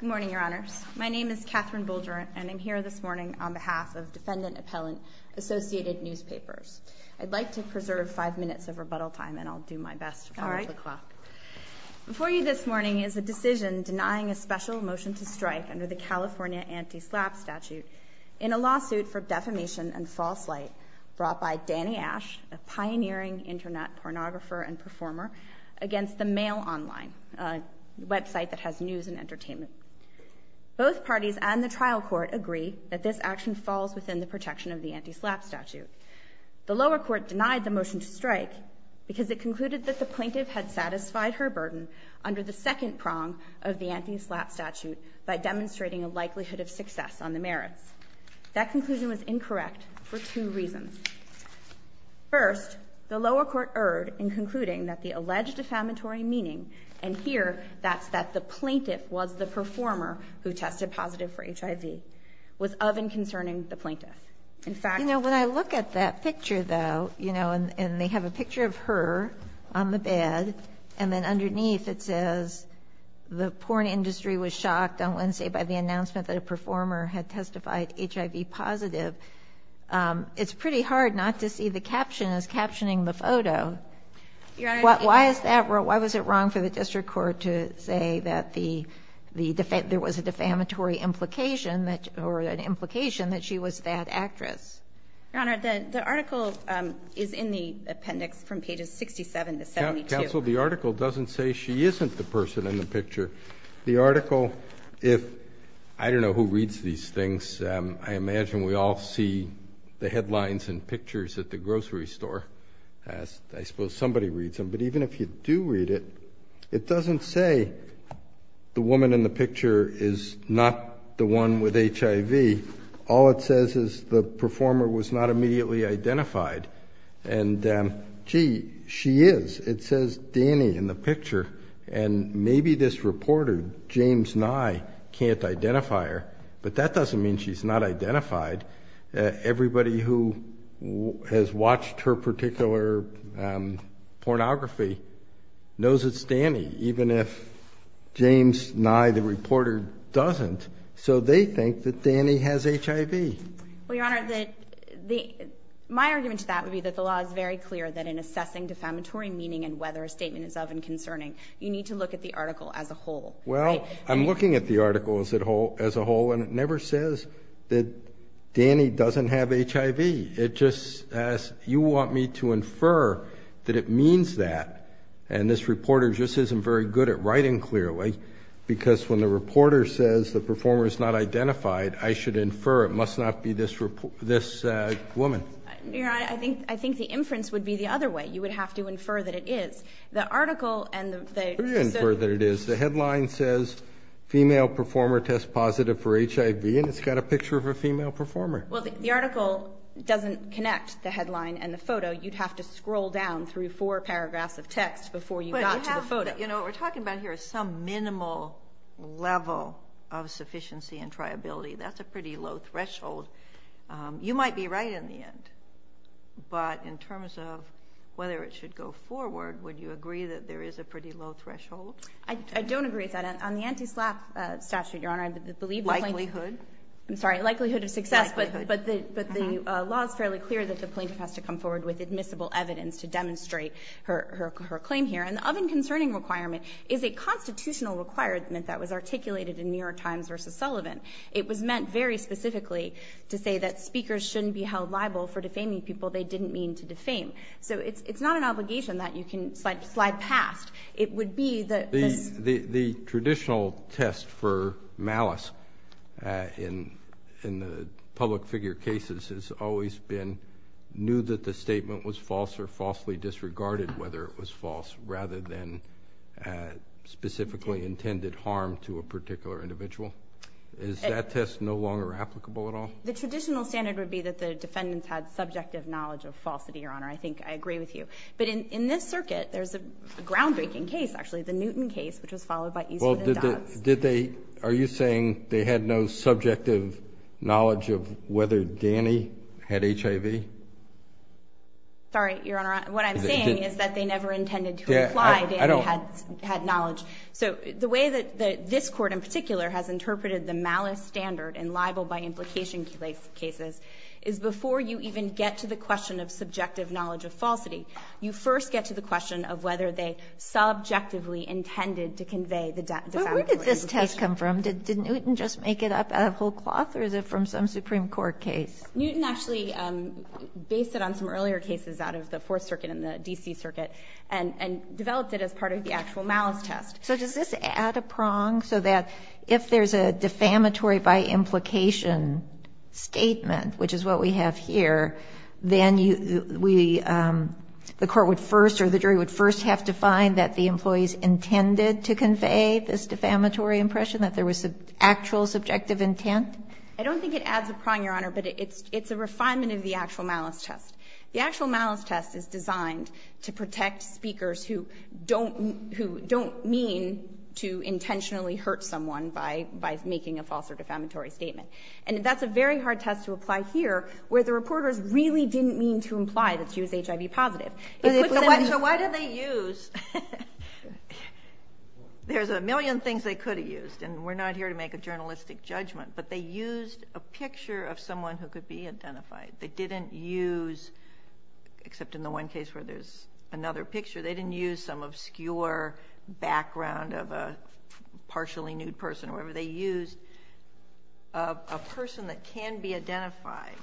Good morning, Your Honors. My name is Katherine Bulger and I'm here this morning on behalf of Defendant Appellant Associated Newspapers. I'd like to preserve five minutes of rebuttal time and I'll do my best to follow the clock. Before you this morning is a decision denying a special motion to strike under the California Anti-SLAPP statute in a lawsuit for deaf discrimination and false light brought by Danny Ash, a pioneering internet pornographer and performer against the Mail Online, a website that has news and entertainment. Both parties and the trial court agree that this action falls within the protection of the Anti-SLAPP statute. The lower court denied the motion to strike because it concluded that the plaintiff had satisfied her burden under the second prong of the Anti-SLAPP statute by demonstrating a likelihood of success on the merits. That conclusion was incorrect for two reasons. First, the lower court erred in concluding that the alleged defamatory meaning, and here that's that the plaintiff was the performer who tested positive for HIV, was of and concerning the plaintiff. In fact – You know, when I look at that picture, though, you know, and they have a picture of her on the bed, and then underneath it says, the porn industry was shocked on Wednesday by the announcement that a performer had testified HIV positive, it's pretty hard not to see the caption as captioning the photo. Your Honor – Why is that – why was it wrong for the district court to say that the – there was a defamatory implication that – or an implication that she was that actress? Your Honor, the article is in the appendix from pages 67 to 72. Counsel, the article doesn't say she isn't the person in the picture. The article, if – I don't know who reads these things. I imagine we all see the headlines and pictures at the grocery store. I suppose somebody reads them. But even if you do read it, it doesn't say the woman in the picture is not the one with HIV. All it says is the performer was not immediately identified. And, gee, she is. It says Dani in the picture. And maybe this reporter, James Nye, can't identify her. But that doesn't mean she's not identified. Everybody who has watched her particular pornography knows it's Dani, even if James Nye, the reporter, doesn't. So they think that Dani has HIV. Well, Your Honor, the – my argument to that would be that the law is very clear that in assessing defamatory meaning and whether a statement is of and concerning, you need to look at the article as a whole. Well, I'm looking at the article as a whole, and it never says that Dani doesn't have HIV. It just says, you want me to infer that it means that, and this reporter just isn't very good at writing clearly, because when the reporter says the performer is not identified, I should infer it must not be this woman. Your Honor, I think the inference would be the other way. You would have to infer that it is. The article and the – The headline says, Female Performer Tests Positive for HIV, and it's got a picture of a female performer. Well, the article doesn't connect the headline and the photo. You'd have to scroll down through four paragraphs of text before you got to the photo. But you have – you know, what we're talking about here is some minimal level of sufficiency and triability. That's a pretty low threshold. You might be right in the end, but in terms of whether it should go forward, would you agree that there is a pretty low threshold? I don't agree with that. On the anti-SLAPP statute, Your Honor, I believe the plaintiff – Likelihood? I'm sorry. Likelihood of success. Likelihood. But the law is fairly clear that the plaintiff has to come forward with admissible evidence to demonstrate her claim here. And the oven concerning requirement is a constitutional requirement that was articulated in New York Times v. Sullivan. It was meant very specifically to say that speakers shouldn't be held liable for defaming people they didn't mean to defame. So it's not an obligation that you can slide past. It would be that – The traditional test for malice in the public figure cases has always been knew that the statement was false or falsely disregarded whether it was false rather than specifically intended harm to a particular individual. Is that test no longer applicable at all? The traditional standard would be that the defendants had subjective knowledge of falsity, Your Honor. I think I agree with you. But in this circuit, there's a groundbreaking case, actually, the Newton case, which was followed by Eastwood and Dodds. Did they – are you saying they had no subjective knowledge of whether Danny had HIV? Sorry, Your Honor. What I'm saying is that they never intended to imply Danny had knowledge. So the way that this Court in particular has interpreted the malice standard in libel by implication cases is before you even get to the question of subjective knowledge of falsity, you first get to the question of whether they subjectively intended to convey the defamatory implication. But where did this test come from? Did Newton just make it up out of whole cloth or is it from some Supreme Court case? Newton actually based it on some earlier cases out of the Fourth Circuit and the D.C. Circuit and developed it as part of the actual malice test. So does this add a prong so that if there's a defamatory by implication statement, which is what we have here, then you – we – the court would first or the jury would first have to find that the employees intended to convey this defamatory impression, that there was actual subjective intent? I don't think it adds a prong, Your Honor, but it's a refinement of the actual malice test. The actual malice test is designed to protect speakers who don't mean to intentionally hurt someone by making a false or defamatory statement. And that's a very hard test to apply here where the reporters really didn't mean to imply that she was HIV positive. So why did they use – there's a million things they could have used, and we're not here to make a journalistic judgment, but they used a picture of someone who could be identified. They didn't use – except in the one case where there's another picture – they didn't use some obscure background of a partially nude person or whatever. They used a person that can be identified.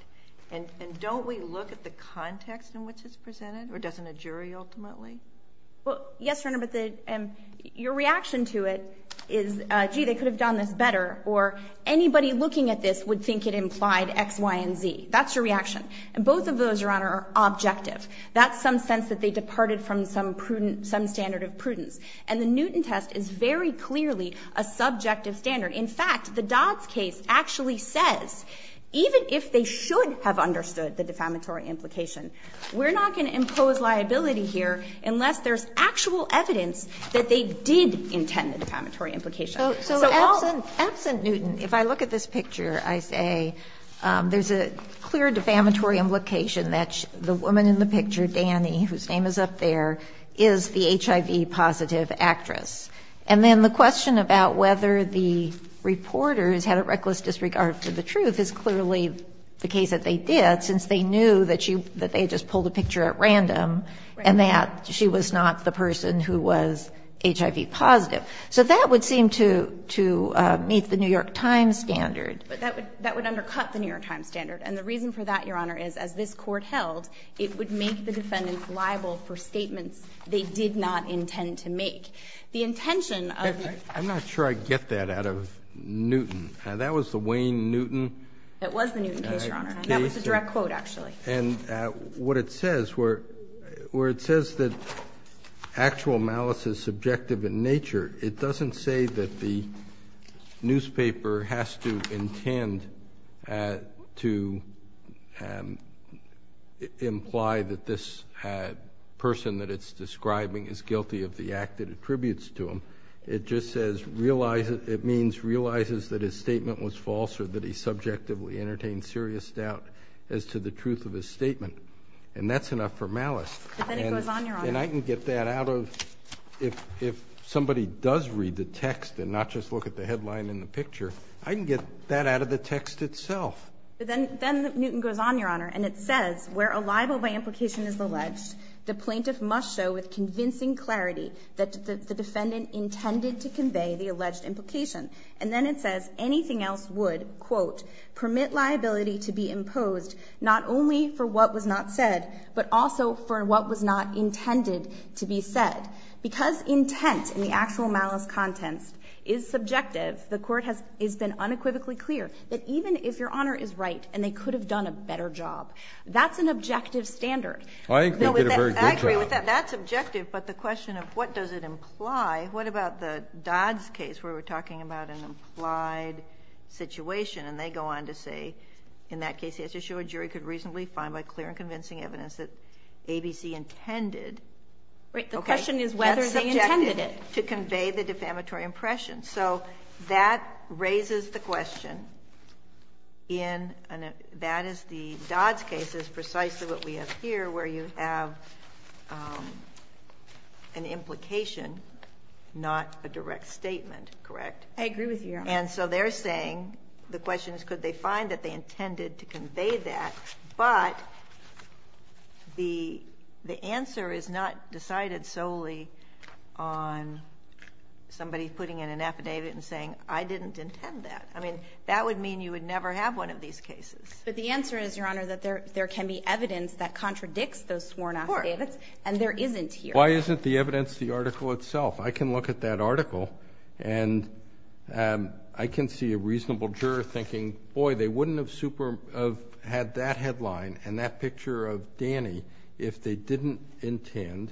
And don't we look at the context in which it's presented? Or doesn't a jury ultimately? Well, yes, Your Honor, but the – your reaction to it is, gee, they could have done this better, or anybody looking at this would think it implied X, Y, and Z. That's your reaction. And both of those, Your Honor, are objective. That's some sense that they departed from some standard of prudence. And the Newton test is very clearly a subjective standard. In fact, the Dodds case actually says, even if they should have understood the defamatory implication, we're not going to impose liability here unless there's actual evidence that they did intend the defamatory implication. So all – So absent Newton, if I look at this picture, I say there's a clear defamatory implication that the woman in the picture, Danny, whose name is up there, is the HIV-positive actress. And then the question about whether the reporters had a reckless disregard for the truth is clearly the case that they did, since they knew that she – that they had just pulled a picture at random and that she was not the person who was HIV-positive. So that would seem to – to meet the New York Times standard. But that would – that would undercut the New York Times standard. And the reason for that, Your Honor, is as this Court held, it would make the defendants liable for statements they did not intend to make. The intention of – I'm not sure I get that out of Newton. That was the Wayne Newton case. It was the Newton case, Your Honor. That was a direct quote, actually. And what it says, where it says that actual malice is subjective in nature, it doesn't say that the newspaper has to intend to imply that this person that it's describing is guilty of the act it attributes to him. It just says realize – it means realizes that his statement was false or that he subjectively entertained serious doubt as to the truth of his statement. And that's enough for malice. But then it goes on, Your Honor. And I can get that out of – if somebody does read the text and not just look at the headline and the picture, I can get that out of the text itself. But then – then Newton goes on, Your Honor, and it says where a libel by implication is alleged, the plaintiff must show with convincing clarity that the defendant intended to convey the alleged implication. And then it says anything else would, quote, not only for what was not said, but also for what was not intended to be said. Because intent in the actual malice contents is subjective, the Court has been unequivocally clear that even if Your Honor is right and they could have done a better job, that's Now, with that – Kennedy, I agree with that. That's objective. But the question of what does it imply, what about the Dodd's case where we're going on to say in that case he has to show a jury could reasonably find by clear and convincing evidence that ABC intended, okay. Right. The question is whether they intended it. That's subjective. To convey the defamatory impression. So that raises the question in – that is the Dodd's case is precisely what we have here, where you have an implication, not a direct statement. Correct? I agree with you, Your Honor. And so they're saying the question is could they find that they intended to convey that, but the answer is not decided solely on somebody putting in an affidavit and saying I didn't intend that. I mean, that would mean you would never have one of these cases. But the answer is, Your Honor, that there can be evidence that contradicts those sworn affidavits. Of course. And there isn't here. Why isn't the evidence the article itself? I can look at that article and I can see a reasonable juror thinking, boy, they wouldn't have had that headline and that picture of Danny if they didn't intend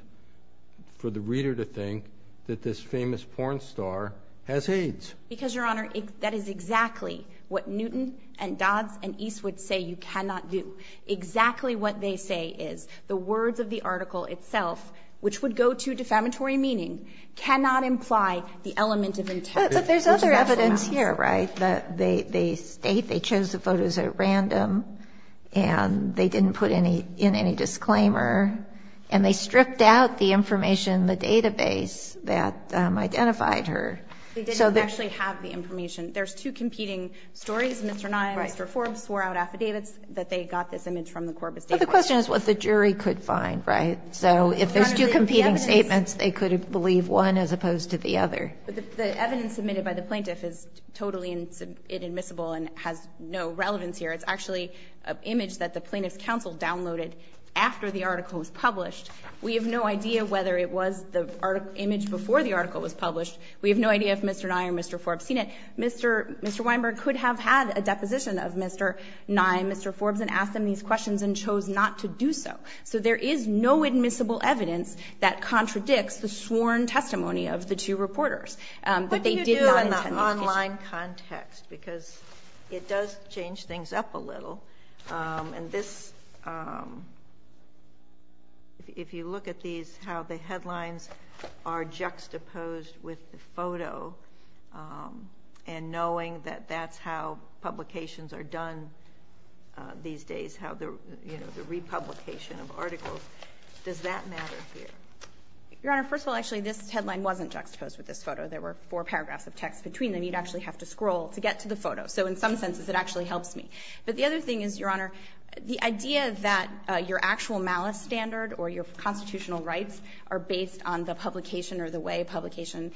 for the reader to think that this famous porn star has AIDS. Because, Your Honor, that is exactly what Newton and Dodd's and East would say you cannot do. Exactly what they say is the words of the article itself, which would go to the reader, cannot imply the element of intent. But there's other evidence here, right? That they state they chose the photos at random and they didn't put in any disclaimer and they stripped out the information in the database that identified her. They didn't actually have the information. There's two competing stories. Mr. Nye and Mr. Forbes swore out affidavits that they got this image from the Corbis But the question is what the jury could find, right? So if there's two competing statements, they could believe one as opposed to the other. But the evidence submitted by the plaintiff is totally inadmissible and has no relevance here. It's actually an image that the Plaintiff's counsel downloaded after the article was published. We have no idea whether it was the image before the article was published. We have no idea if Mr. Nye or Mr. Forbes seen it. Mr. Weinberg could have had a deposition of Mr. Nye and Mr. Forbes and asked them these questions and chose not to do so. So there is no admissible evidence that contradicts the sworn testimony of the two reporters. What do you do in that online context? Because it does change things up a little. If you look at these, how the headlines are juxtaposed with the photo and knowing that that's how publications are done these days, how the republication of articles, does that matter here? Your Honor, first of all, actually, this headline wasn't juxtaposed with this photo. There were four paragraphs of text between them. You'd actually have to scroll to get to the photo. So in some senses, it actually helps me. But the other thing is, Your Honor, the idea that your actual malice standard or your constitutional rights are based on the publication or the way a publication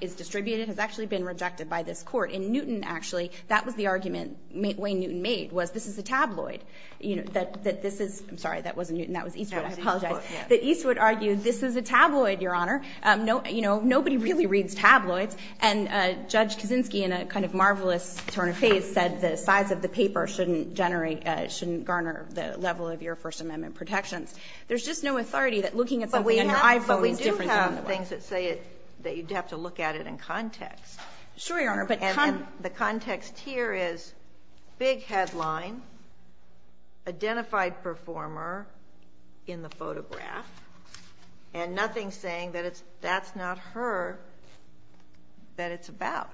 is distributed has actually been rejected by this Court. And Newton, actually, that was the argument, the way Newton made, was this is a tabloid. That this is – I'm sorry, that wasn't Newton. That was Eastwood. I apologize. That Eastwood argued this is a tabloid, Your Honor. Nobody really reads tabloids. And Judge Kaczynski, in a kind of marvelous turn of face, said the size of the paper shouldn't generate – shouldn't garner the level of your First Amendment protections. There's just no authority that looking at something on your iPhone is different than on the web. But we do have things that say that you'd have to look at it in context. Sure, Your Honor, but – And the context here is big headline, identified performer in the photograph, and nothing saying that it's – that's not her that it's about.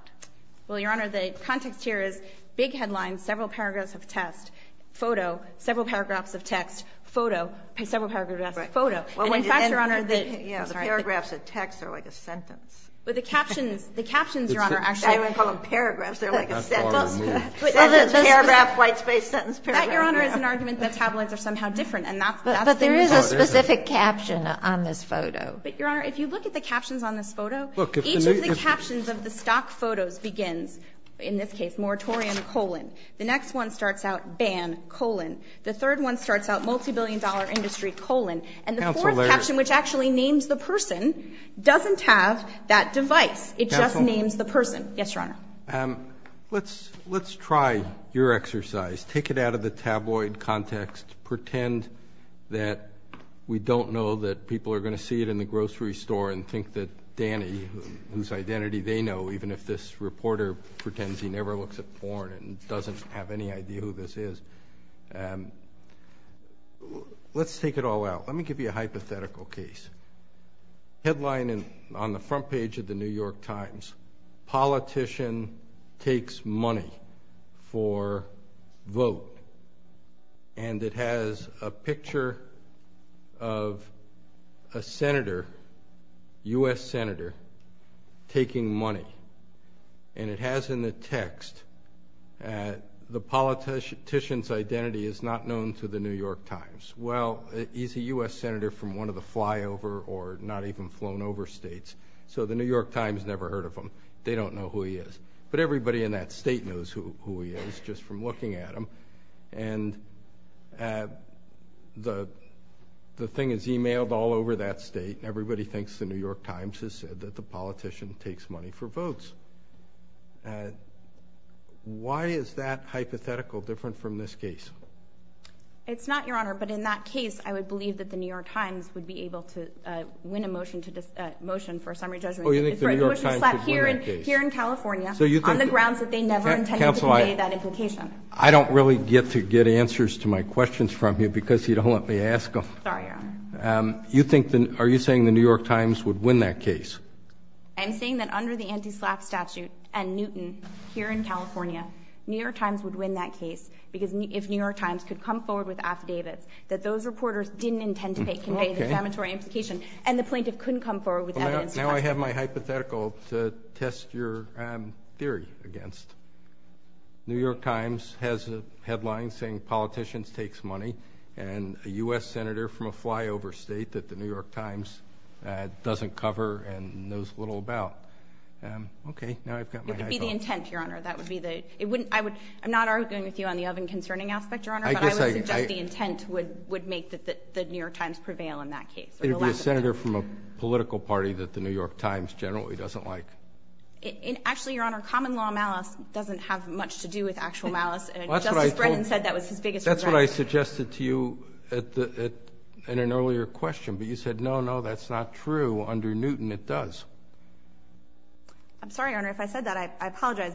Well, Your Honor, the context here is big headline, several paragraphs of text, photo, several paragraphs of text, photo, several paragraphs of text, photo. And in fact, Your Honor, the – I'm sorry. The paragraphs of text are like a sentence. But the captions – the captions, Your Honor, actually – I wouldn't call them paragraphs. They're like a sentence. Paragraph, white space, sentence, paragraph. That, Your Honor, is an argument that tabloids are somehow different, and that's the reason. But there is a specific caption on this photo. But, Your Honor, if you look at the captions on this photo, each of the captions of the stock photos begins, in this case, moratorium, colon. The next one starts out ban, colon. The third one starts out multibillion-dollar industry, colon. And the fourth caption, which actually names the person, doesn't have that caption on that device. It just names the person. Yes, Your Honor. Let's try your exercise. Take it out of the tabloid context. Pretend that we don't know that people are going to see it in the grocery store and think that Danny, whose identity they know, even if this reporter pretends he never looks at porn and doesn't have any idea who this is. Let's take it all out. Let me give you a hypothetical case. Headline on the front page of the New York Times, Politician Takes Money for Vote. And it has a picture of a senator, U.S. senator, taking money. And it has in the text, the politician's identity is not known to the New York Times. Well, he's a U.S. senator from one of the flyover or not even flown over states, so the New York Times never heard of him. They don't know who he is. But everybody in that state knows who he is just from looking at him. And the thing is emailed all over that state. Everybody thinks the New York Times has said that the politician takes money for votes. Why is that hypothetical different from this case? It's not, Your Honor, but in that case, I would believe that the New York Times would be able to win a motion for a summary judgment. Oh, you think the New York Times would win that case? Here in California, on the grounds that they never intended to convey that implication. Counsel, I don't really get to get answers to my questions from you because you don't let me ask them. Sorry, Your Honor. Are you saying the New York Times would win that case? I'm saying that under the anti-SLAPP statute and Newton here in California, New York Times would win that case because if New York Times could come forward with affidavits that those reporters didn't intend to convey the inflammatory implication and the plaintiff couldn't come forward with evidence. Now I have my hypothetical to test your theory against. New York Times has a headline saying politicians takes money and a U.S. Senator from a flyover state that the New York Times doesn't cover and knows little about. Okay, now I've got my hypothetical. That would be the intent, Your Honor. I'm not arguing with you on the oven concerning aspect, Your Honor, but I would suggest the intent would make the New York Times prevail in that case. It would be a senator from a political party that the New York Times generally doesn't like. Actually, Your Honor, common law malice doesn't have much to do with actual malice. Justice Brennan said that was his biggest regret. That's what I suggested to you in an earlier question, but you said no, no, that's not true. Under Newton, it does. I'm sorry, Your Honor. If I said that, I apologize.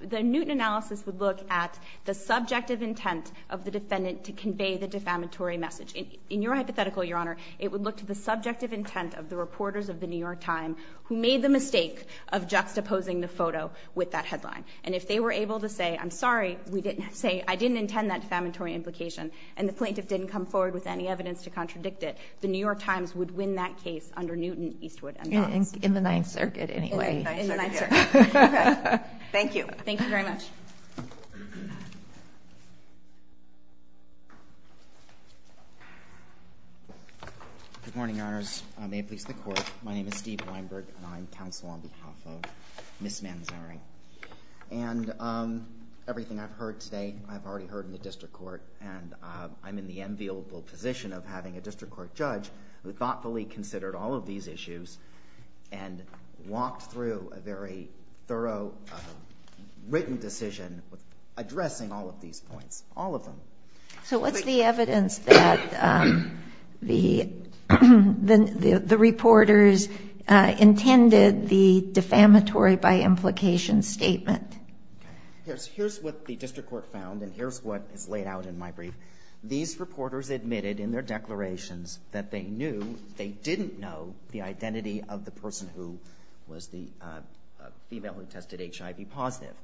The Newton analysis would look at the subjective intent of the defendant to convey the defamatory message. In your hypothetical, Your Honor, it would look to the subjective intent of the reporters of the New York Times who made the mistake of juxtaposing the photo with that headline. And if they were able to say, I'm sorry, we didn't say, I didn't intend that defamatory implication, and the plaintiff didn't come forward with any evidence to contradict it, the New York Times would win that case under Newton, Eastwood, and Bonds. In the Ninth Circuit, anyway. In the Ninth Circuit. In the Ninth Circuit. Okay. Thank you. Thank you very much. Good morning, Your Honors. May it please the Court. My name is Steve Weinberg, and I'm counsel on behalf of Ms. Manzari. And everything I've heard today, I've already heard in the district court, and I'm in the enviable position of having a district court judge who thoughtfully considered all of these issues and walked through a very thorough written decision addressing all of these points, all of them. So what's the evidence that the reporters intended the defamatory by implication statement? Here's what the district court found, and here's what is laid out in my brief. These reporters admitted in their declarations that they knew, they didn't know, the identity of the person who was the female who tested HIV positive.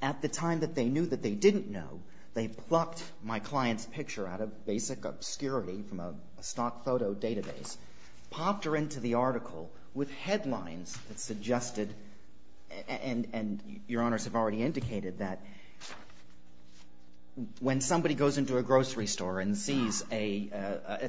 At the time that they knew that they didn't know, they plucked my client's picture out of basic obscurity from a stock photo database, popped her into the article with headlines that suggested, and Your Honors have already indicated that, when somebody goes into a grocery store and sees a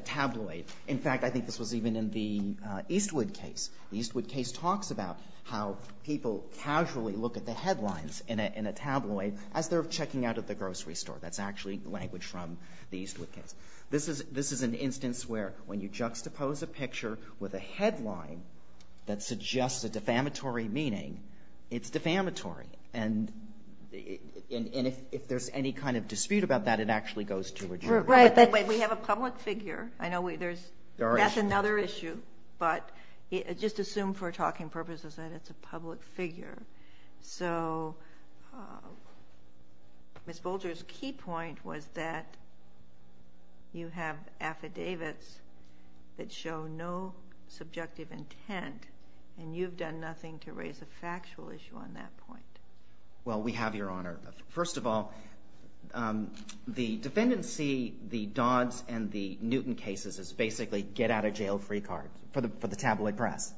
tabloid. In fact, I think this was even in the Eastwood case. The Eastwood case talks about how people casually look at the headlines in a tabloid as they're checking out at the grocery store. That's actually language from the Eastwood case. This is an instance where, when you juxtapose a picture with a headline that suggests a defamatory meaning, it's defamatory. If there's any kind of dispute about that, it actually goes to a jury. Right, but we have a public figure. I know that's another issue, but just assume for talking purposes that it's a public figure. Ms. Bolger's key point was that you have affidavits that show no subjective intent, and you've done nothing to raise a factual issue on that point. Well, we have, Your Honor. First of all, the defendants see the Dodds and the Newton cases as basically get-out-of-jail-free cards for the tabloid press.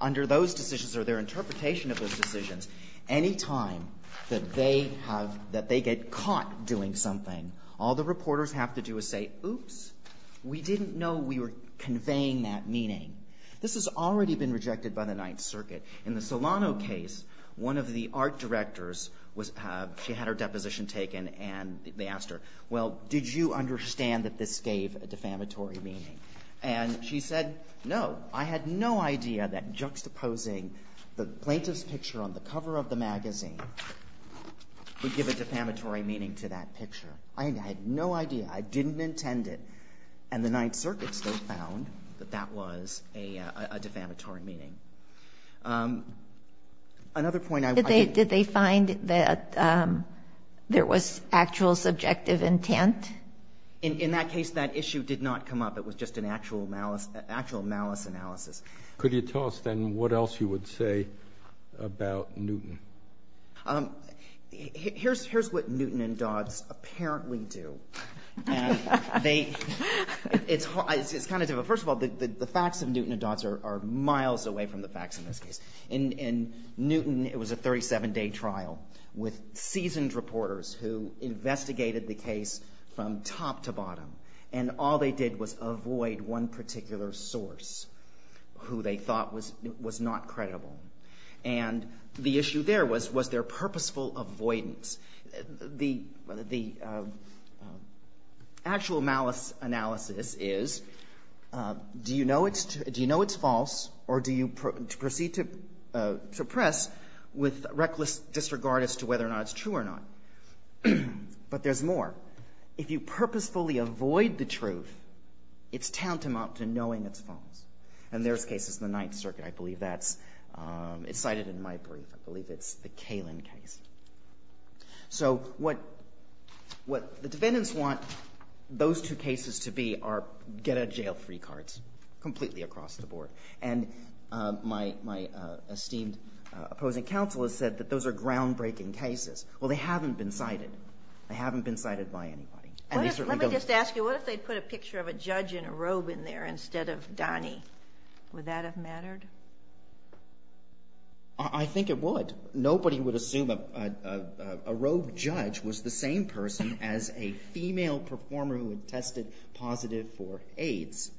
Under those decisions or their interpretation of those decisions, any time that they get caught doing something, all the reporters have to do is say, oops, we didn't know we were conveying that meaning. This has already been rejected by the Ninth Circuit. In the Solano case, one of the art directors, she had her deposition taken, and they asked her, well, did you understand that this gave a defamatory meaning? And she said, no, I had no idea that juxtaposing the plaintiff's picture on the cover of the magazine would give a defamatory meaning to that picture. I had no idea. I didn't intend it. And the Ninth Circuit still found that that was a defamatory meaning. Another point I want to make. Did they find that there was actual subjective intent? In that case, that issue did not come up. It was just an actual malice analysis. Could you tell us, then, what else you would say about Newton? Here's what Newton and Dodds apparently do. It's kind of difficult. First of all, the facts of Newton and Dodds are miles away from the facts in this case. In Newton, it was a 37-day trial with seasoned reporters who investigated the case from top to bottom, and all they did was avoid one particular source who they thought was not credible. And the issue there was, was there purposeful avoidance? The actual malice analysis is, do you know it's false, or do you proceed to press with reckless disregard as to whether or not it's true or not? But there's more. If you purposefully avoid the truth, it's tantamount to knowing it's false. And there's cases in the Ninth Circuit. I believe that's cited in my brief. I believe it's the Kalin case. So what the defendants want those two cases to be are get-out-of-jail-free cards completely across the board. And my esteemed opposing counsel has said that those are groundbreaking cases. Well, they haven't been cited. They haven't been cited by anybody. Let me just ask you, what if they put a picture of a judge in a robe in there instead of Donnie? Would that have mattered? I think it would. Nobody would assume a robe judge was the same person as a female performer who had tested positive for AIDS.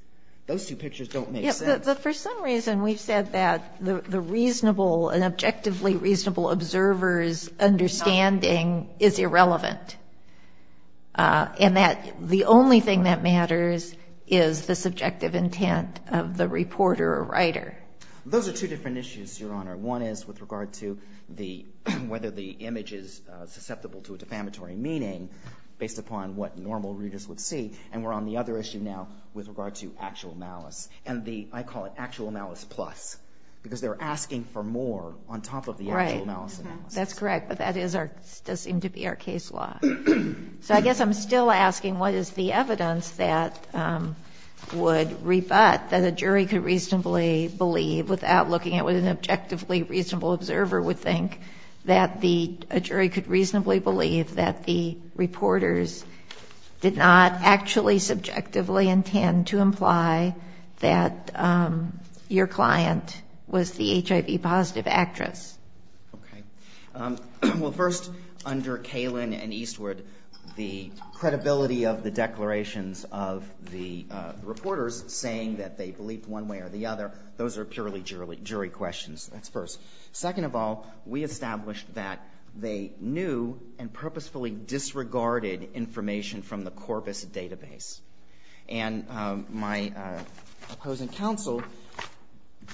Those two pictures don't make sense. Yes, but for some reason we've said that the reasonable and objectively reasonable observer's understanding is irrelevant and that the only thing that matters is the subjective intent of the reporter or writer. Those are two different issues, Your Honor. One is with regard to whether the image is susceptible to a defamatory meaning based upon what normal readers would see. And we're on the other issue now with regard to actual malice. And I call it actual malice plus because they're asking for more on top of the actual malice. That's correct, but that does seem to be our case law. So I guess I'm still asking what is the evidence that would rebut that a jury could reasonably believe without looking at what an objectively reasonable observer would think, that a jury could reasonably believe that the reporters did not actually subjectively intend to imply that your client was the HIV-positive actress. Okay. Well, first, under Kalin and Eastwood, the credibility of the declarations of the reporters saying that they believed one way or the other, those are purely jury questions. That's first. Second of all, we established that they knew and purposefully disregarded information from the Corpus database. And my opposing counsel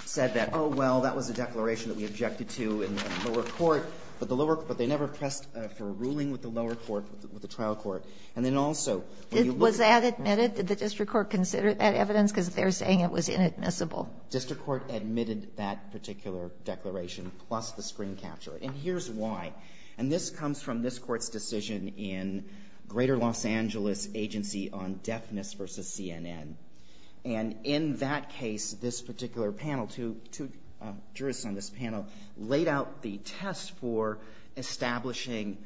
said that, oh, well, that was a declaration that we objected to in the lower court, but they never pressed for a ruling with the lower court, with the trial court. And then also, when you look at the other evidence. Was that admitted? Did the district court consider that evidence? Because they're saying it was inadmissible. District court admitted that particular declaration, plus the screen capture. And here's why. And this comes from this Court's decision in Greater Los Angeles Agency on Deafness v. CNN. And in that case, this particular panel, two jurists on this panel, laid out the test for establishing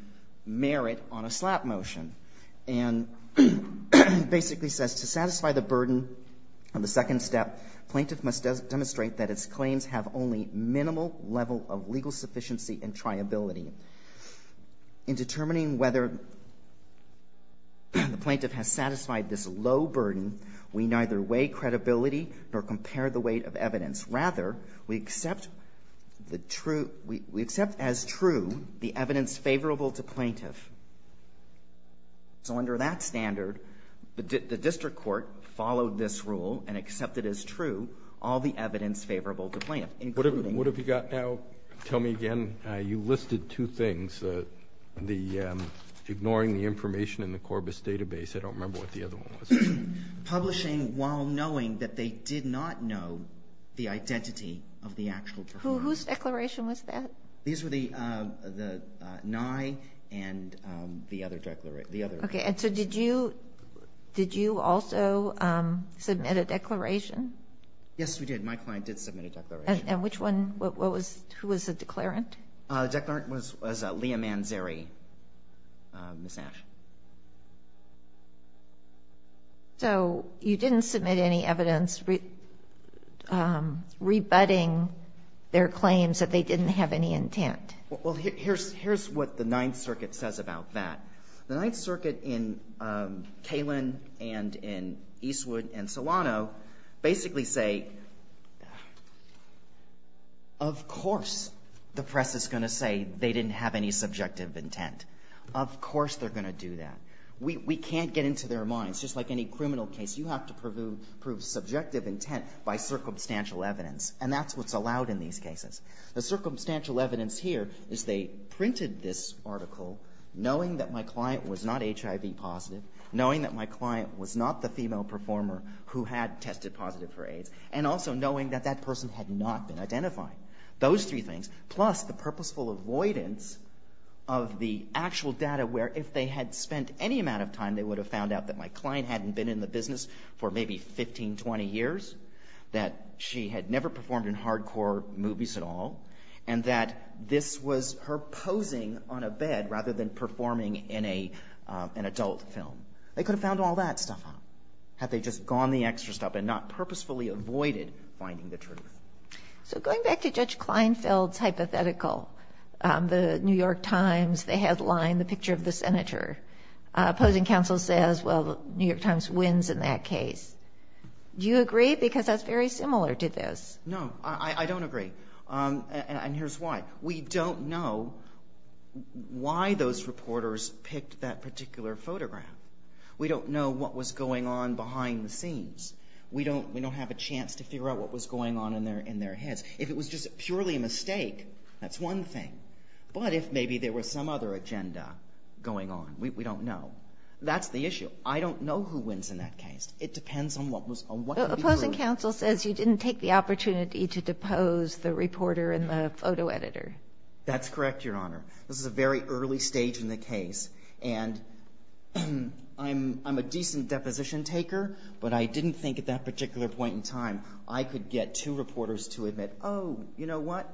merit on a slap motion. And basically says, to satisfy the burden of the second step, plaintiff must demonstrate that its claims have only minimal level of legal sufficiency and triability. In determining whether the plaintiff has satisfied this low burden, we neither weigh credibility nor compare the weight of evidence. Rather, we accept the true — we accept as true the evidence favorable to plaintiff. So under that standard, the district court followed this rule and accepted as true all the evidence favorable to plaintiff, including — Two things. Ignoring the information in the Corbis database. I don't remember what the other one was. Publishing while knowing that they did not know the identity of the actual performer. Whose declaration was that? These were the Nye and the other declaration. Okay. And so did you also submit a declaration? Yes, we did. My client did submit a declaration. And which one? What was — who was the declarant? The declarant was Leah Manzeri, Ms. Nash. So you didn't submit any evidence rebutting their claims that they didn't have any intent? Well, here's what the Ninth Circuit says about that. The Ninth Circuit in Kalin and in Eastwood and Solano basically say, of course the press is going to say they didn't have any subjective intent. Of course they're going to do that. We can't get into their minds. Just like any criminal case, you have to prove subjective intent by circumstantial evidence, and that's what's allowed in these cases. The circumstantial evidence here is they printed this article knowing that my client was not HIV positive, knowing that my client was not the female performer who had tested positive for AIDS, and also knowing that that person had not been identified. Those three things, plus the purposeful avoidance of the actual data where if they had spent any amount of time, they would have found out that my client hadn't been in the business for maybe 15, 20 years, that she had never performed in a hall, and that this was her posing on a bed rather than performing in an adult film. They could have found all that stuff out had they just gone the extra step and not purposefully avoided finding the truth. So going back to Judge Kleinfeld's hypothetical, the New York Times, they headline the picture of the senator. Opposing counsel says, well, the New York Times wins in that case. Do you agree? Because that's very similar to this. No, I don't agree. And here's why. We don't know why those reporters picked that particular photograph. We don't know what was going on behind the scenes. We don't have a chance to figure out what was going on in their heads. If it was just purely a mistake, that's one thing. But if maybe there was some other agenda going on, we don't know. That's the issue. I don't know who wins in that case. It depends on what people are doing. Because you didn't take the opportunity to depose the reporter and the photo editor. That's correct, Your Honor. This is a very early stage in the case. And I'm a decent deposition taker, but I didn't think at that particular point in time I could get two reporters to admit, oh, you know what?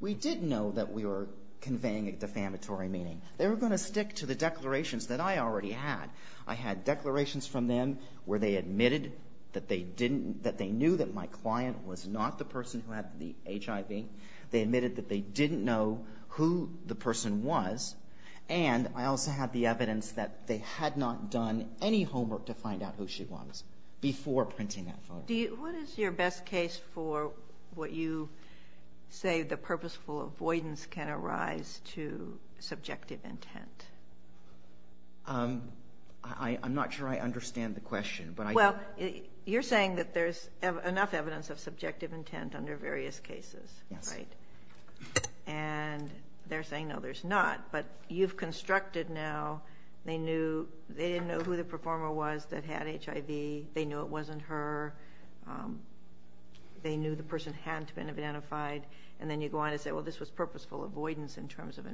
We did know that we were conveying a defamatory meaning. They were going to stick to the declarations that I already had. I had declarations from them where they admitted that they knew that my client was not the person who had the HIV. They admitted that they didn't know who the person was. And I also had the evidence that they had not done any homework to find out who she was before printing that photo. What is your best case for what you say the purposeful avoidance can arise to subjective intent? I'm not sure I understand the question. Well, you're saying that there's enough evidence of subjective intent under various cases, right? Yes. And they're saying no, there's not. But you've constructed now they didn't know who the performer was that had HIV. They knew it wasn't her. They knew the person hadn't been identified. And then you go on and say, well, this was purposeful avoidance in terms of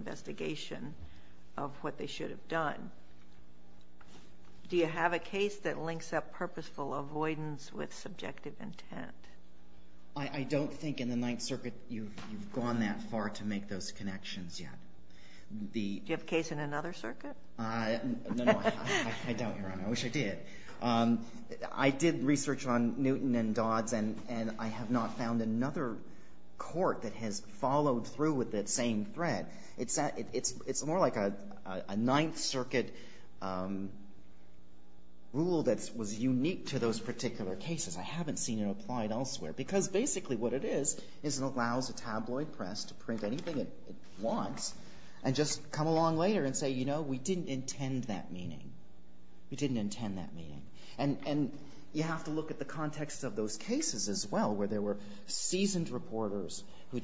what they should have done. Do you have a case that links that purposeful avoidance with subjective intent? I don't think in the Ninth Circuit you've gone that far to make those connections yet. Do you have a case in another circuit? No, I don't, Your Honor. I wish I did. I did research on Newton and Dodds, and I have not found another court that has followed through with that same thread. It's more like a Ninth Circuit rule that was unique to those particular cases. I haven't seen it applied elsewhere because basically what it is is it allows a tabloid press to print anything it wants and just come along later and say, you know, we didn't intend that meeting. We didn't intend that meeting. And you have to look at the context of those cases as well where there were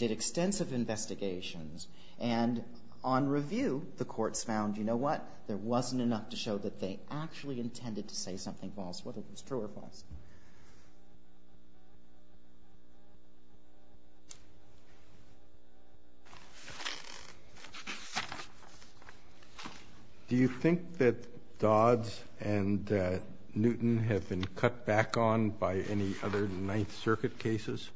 extensive investigations, and on review the courts found, you know what, there wasn't enough to show that they actually intended to say something false, whether it was true or false. Do you think that Dodds and Newton have been cut back on by any other Ninth Circuit cases?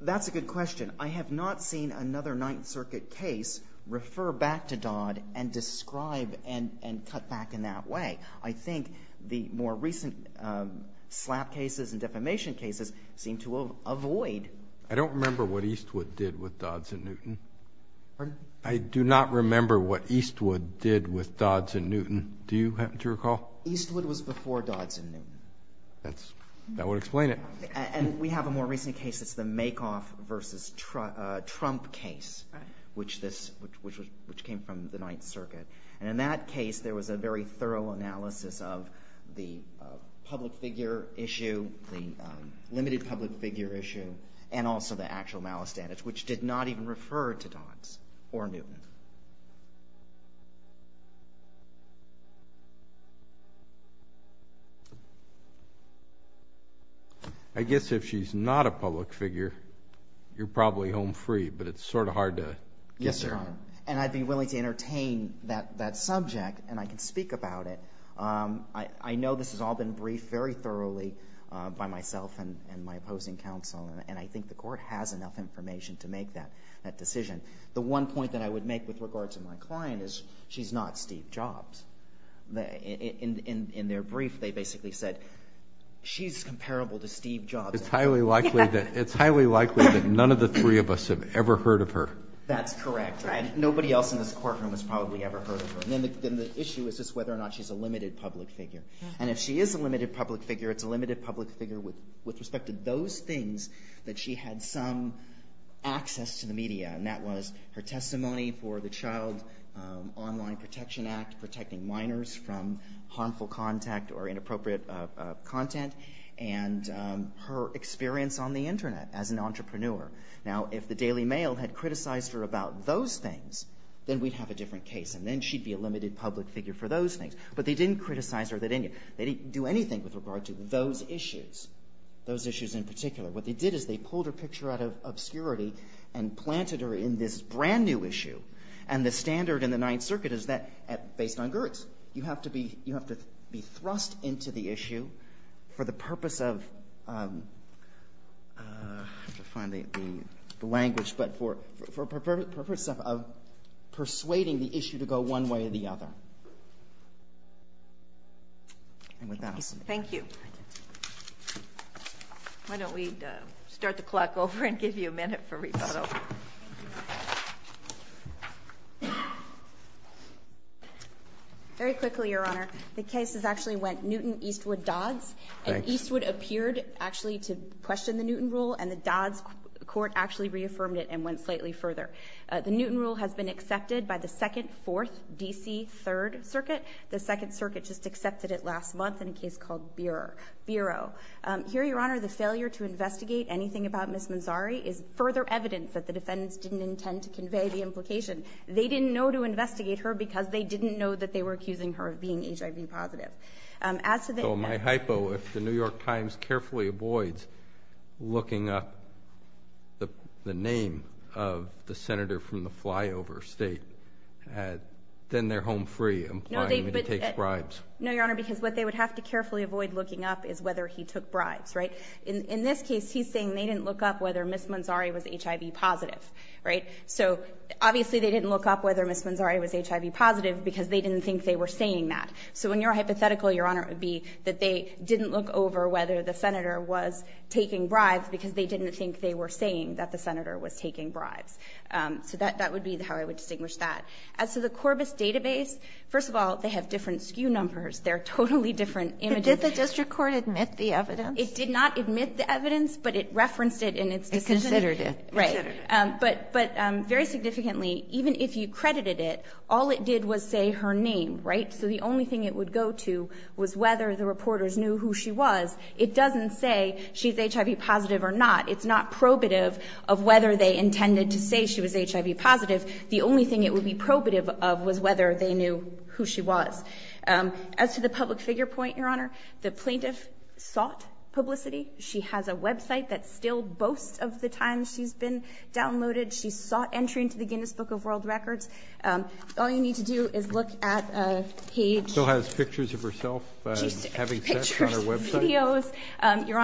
That's a good question. I have not seen another Ninth Circuit case refer back to Dodd and describe and cut back in that way. I think the more recent slap cases and defamation cases seem to avoid. I don't remember what Eastwood did with Dodds and Newton. Pardon? I do not remember what Eastwood did with Dodds and Newton. Do you happen to recall? Eastwood was before Dodds and Newton. That would explain it. And we have a more recent case that's the Makoff versus Trump case, which came from the Ninth Circuit. And in that case, there was a very thorough analysis of the public figure issue, the limited public figure issue, and also the actual malestandage, which did not even refer to Dodds or Newton. I guess if she's not a public figure, you're probably home free, but it's sort of hard to get there. Yes, Your Honor. And I'd be willing to entertain that subject, and I can speak about it. I know this has all been briefed very thoroughly by myself and my opposing counsel, and I think the Court has enough information to make that decision. The one point that I would make with regard to my client is she's not Steve Jobs. In their brief, they basically said she's comparable to Steve Jobs. It's highly likely that none of the three of us have ever heard of her. That's correct. Nobody else in this courtroom has probably ever heard of her. And then the issue is just whether or not she's a limited public figure. And if she is a limited public figure, it's a limited public figure with respect to those things that she had some access to the media, and that was her testimony for the Child Online Protection Act, protecting minors from harmful contact or inappropriate content, and her experience on the Internet as an entrepreneur. Now, if the Daily Mail had criticized her about those things, then we'd have a different case, and then she'd be a limited public figure for those things. But they didn't criticize her. They didn't do anything with regard to those issues. Those issues in particular. What they did is they pulled her picture out of obscurity and planted her in this brand-new issue. And the standard in the Ninth Circuit is that, based on Gertz, you have to be thrust into the issue for the purpose of persuading the issue to go one way or the other. And with that, I'll stop. Thank you. Why don't we start the clock over and give you a minute for rebuttal. Very quickly, Your Honor. The cases actually went Newton-Eastwood-Dodds. And Eastwood appeared actually to question the Newton rule, and the Dodds court actually reaffirmed it and went slightly further. The Newton rule has been accepted by the Second, Fourth, D.C., Third Circuit. The Second Circuit just accepted it last month in a case called Bureau. Here, Your Honor, the failure to investigate anything about Ms. Manzari is further evidence that the defendants didn't intend to convey the implication. They didn't know to investigate her because they didn't know that they were accusing her of being HIV positive. So my hypo, if the New York Times carefully avoids looking up the name of the senator from the flyover state, then they're home free, implying that he takes bribes. No, Your Honor, because what they would have to carefully avoid looking up is whether he took bribes. In this case, he's saying they didn't look up whether Ms. Manzari was HIV positive. So obviously they didn't look up whether Ms. Manzari was HIV positive because they didn't think they were saying that. So in your hypothetical, Your Honor, it would be that they didn't look over whether the senator was taking bribes because they didn't think they were saying that the senator was taking bribes. So that would be how I would distinguish that. As to the Corbis database, first of all, they have different SKU numbers. They're totally different images. But did the district court admit the evidence? It did not admit the evidence, but it referenced it in its decision. It considered it. Right. But very significantly, even if you credited it, all it did was say her name, right? So the only thing it would go to was whether the reporters knew who she was. It doesn't say she's HIV positive or not. It's not probative of whether they intended to say she was HIV positive. The only thing it would be probative of was whether they knew who she was. As to the public figure point, Your Honor, the plaintiff sought publicity. She has a website that still boasts of the times she's been downloaded. She sought entry into the Guinness Book of World Records. All you need to do is look at a page. She still has pictures of herself having sex on her website. Pictures, videos, Your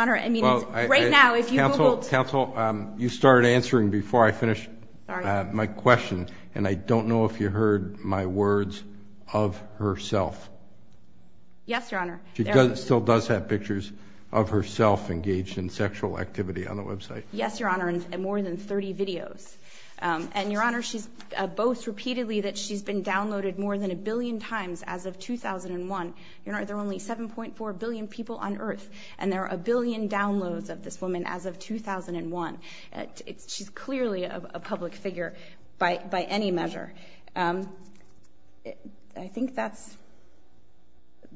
Honor. Counsel, you started answering before I finished my question, and I don't know if you heard my words, of herself. Yes, Your Honor. She still does have pictures of herself engaged in sexual activity on the website. Yes, Your Honor, and more than 30 videos. And, Your Honor, she boasts repeatedly that she's been downloaded more than a billion times as of 2001. Your Honor, there are only 7.4 billion people on earth, and there are a billion downloads of this woman as of 2001. She's clearly a public figure by any measure. I think that's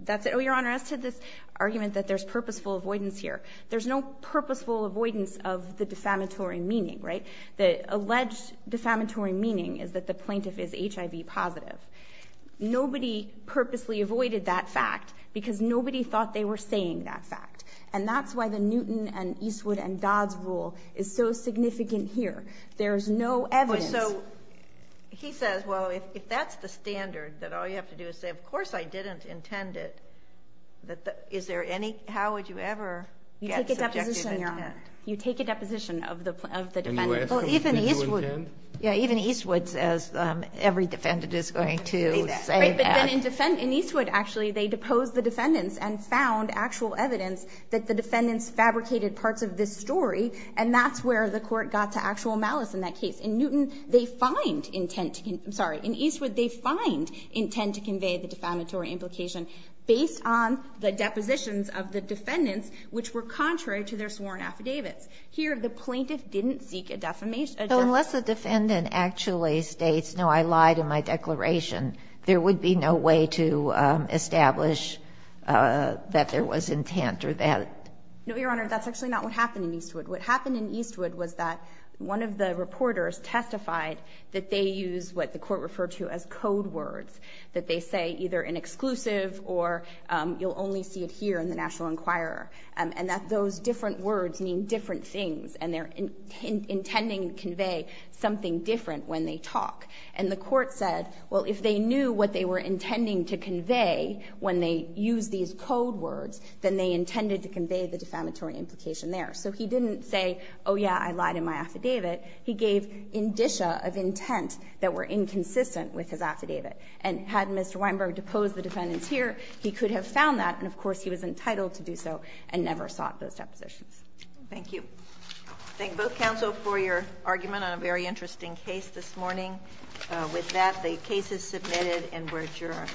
it. Oh, Your Honor, as to this argument that there's purposeful avoidance here, there's no purposeful avoidance of the defamatory meaning, right? The alleged defamatory meaning is that the plaintiff is HIV positive. Nobody purposely avoided that fact because nobody thought they were saying that fact. And that's why the Newton and Eastwood and Dodds rule is so significant here. There's no evidence. So he says, well, if that's the standard, that all you have to do is say, of course I didn't intend it, is there any how would you ever get subjective intent? You take a deposition, Your Honor. You take a deposition of the defendant. Can you ask them if they do intend? Yeah, even Eastwood says every defendant is going to say that. Right, but then in Eastwood, actually, they deposed the defendants and found actual evidence that the defendants fabricated parts of this story, and that's where the court got to actual malice in that case. In Newton, they find intent to convey the defamatory implication based on the depositions of the defendants, which were contrary to their sworn affidavits. Here, the plaintiff didn't seek a defamation. So unless the defendant actually states, no, I lied in my declaration, there would be no way to establish that there was intent or that. No, Your Honor. That's actually not what happened in Eastwood. What happened in Eastwood was that one of the reporters testified that they use what the court referred to as code words, that they say either in exclusive or you'll only see it here in the National Enquirer, and that those different words mean different things and they're intending to convey something different when they talk. And the court said, well, if they knew what they were intending to convey when they used these code words, then they intended to convey the defamatory implication there. So he didn't say, oh, yeah, I lied in my affidavit. He gave indicia of intent that were inconsistent with his affidavit. And had Mr. Weinberg deposed the defendants here, he could have found that, and of course, he was entitled to do so and never sought those depositions. Thank you. I thank both counsel for your argument on a very interesting case this morning. With that, the case is submitted and we're adjourned.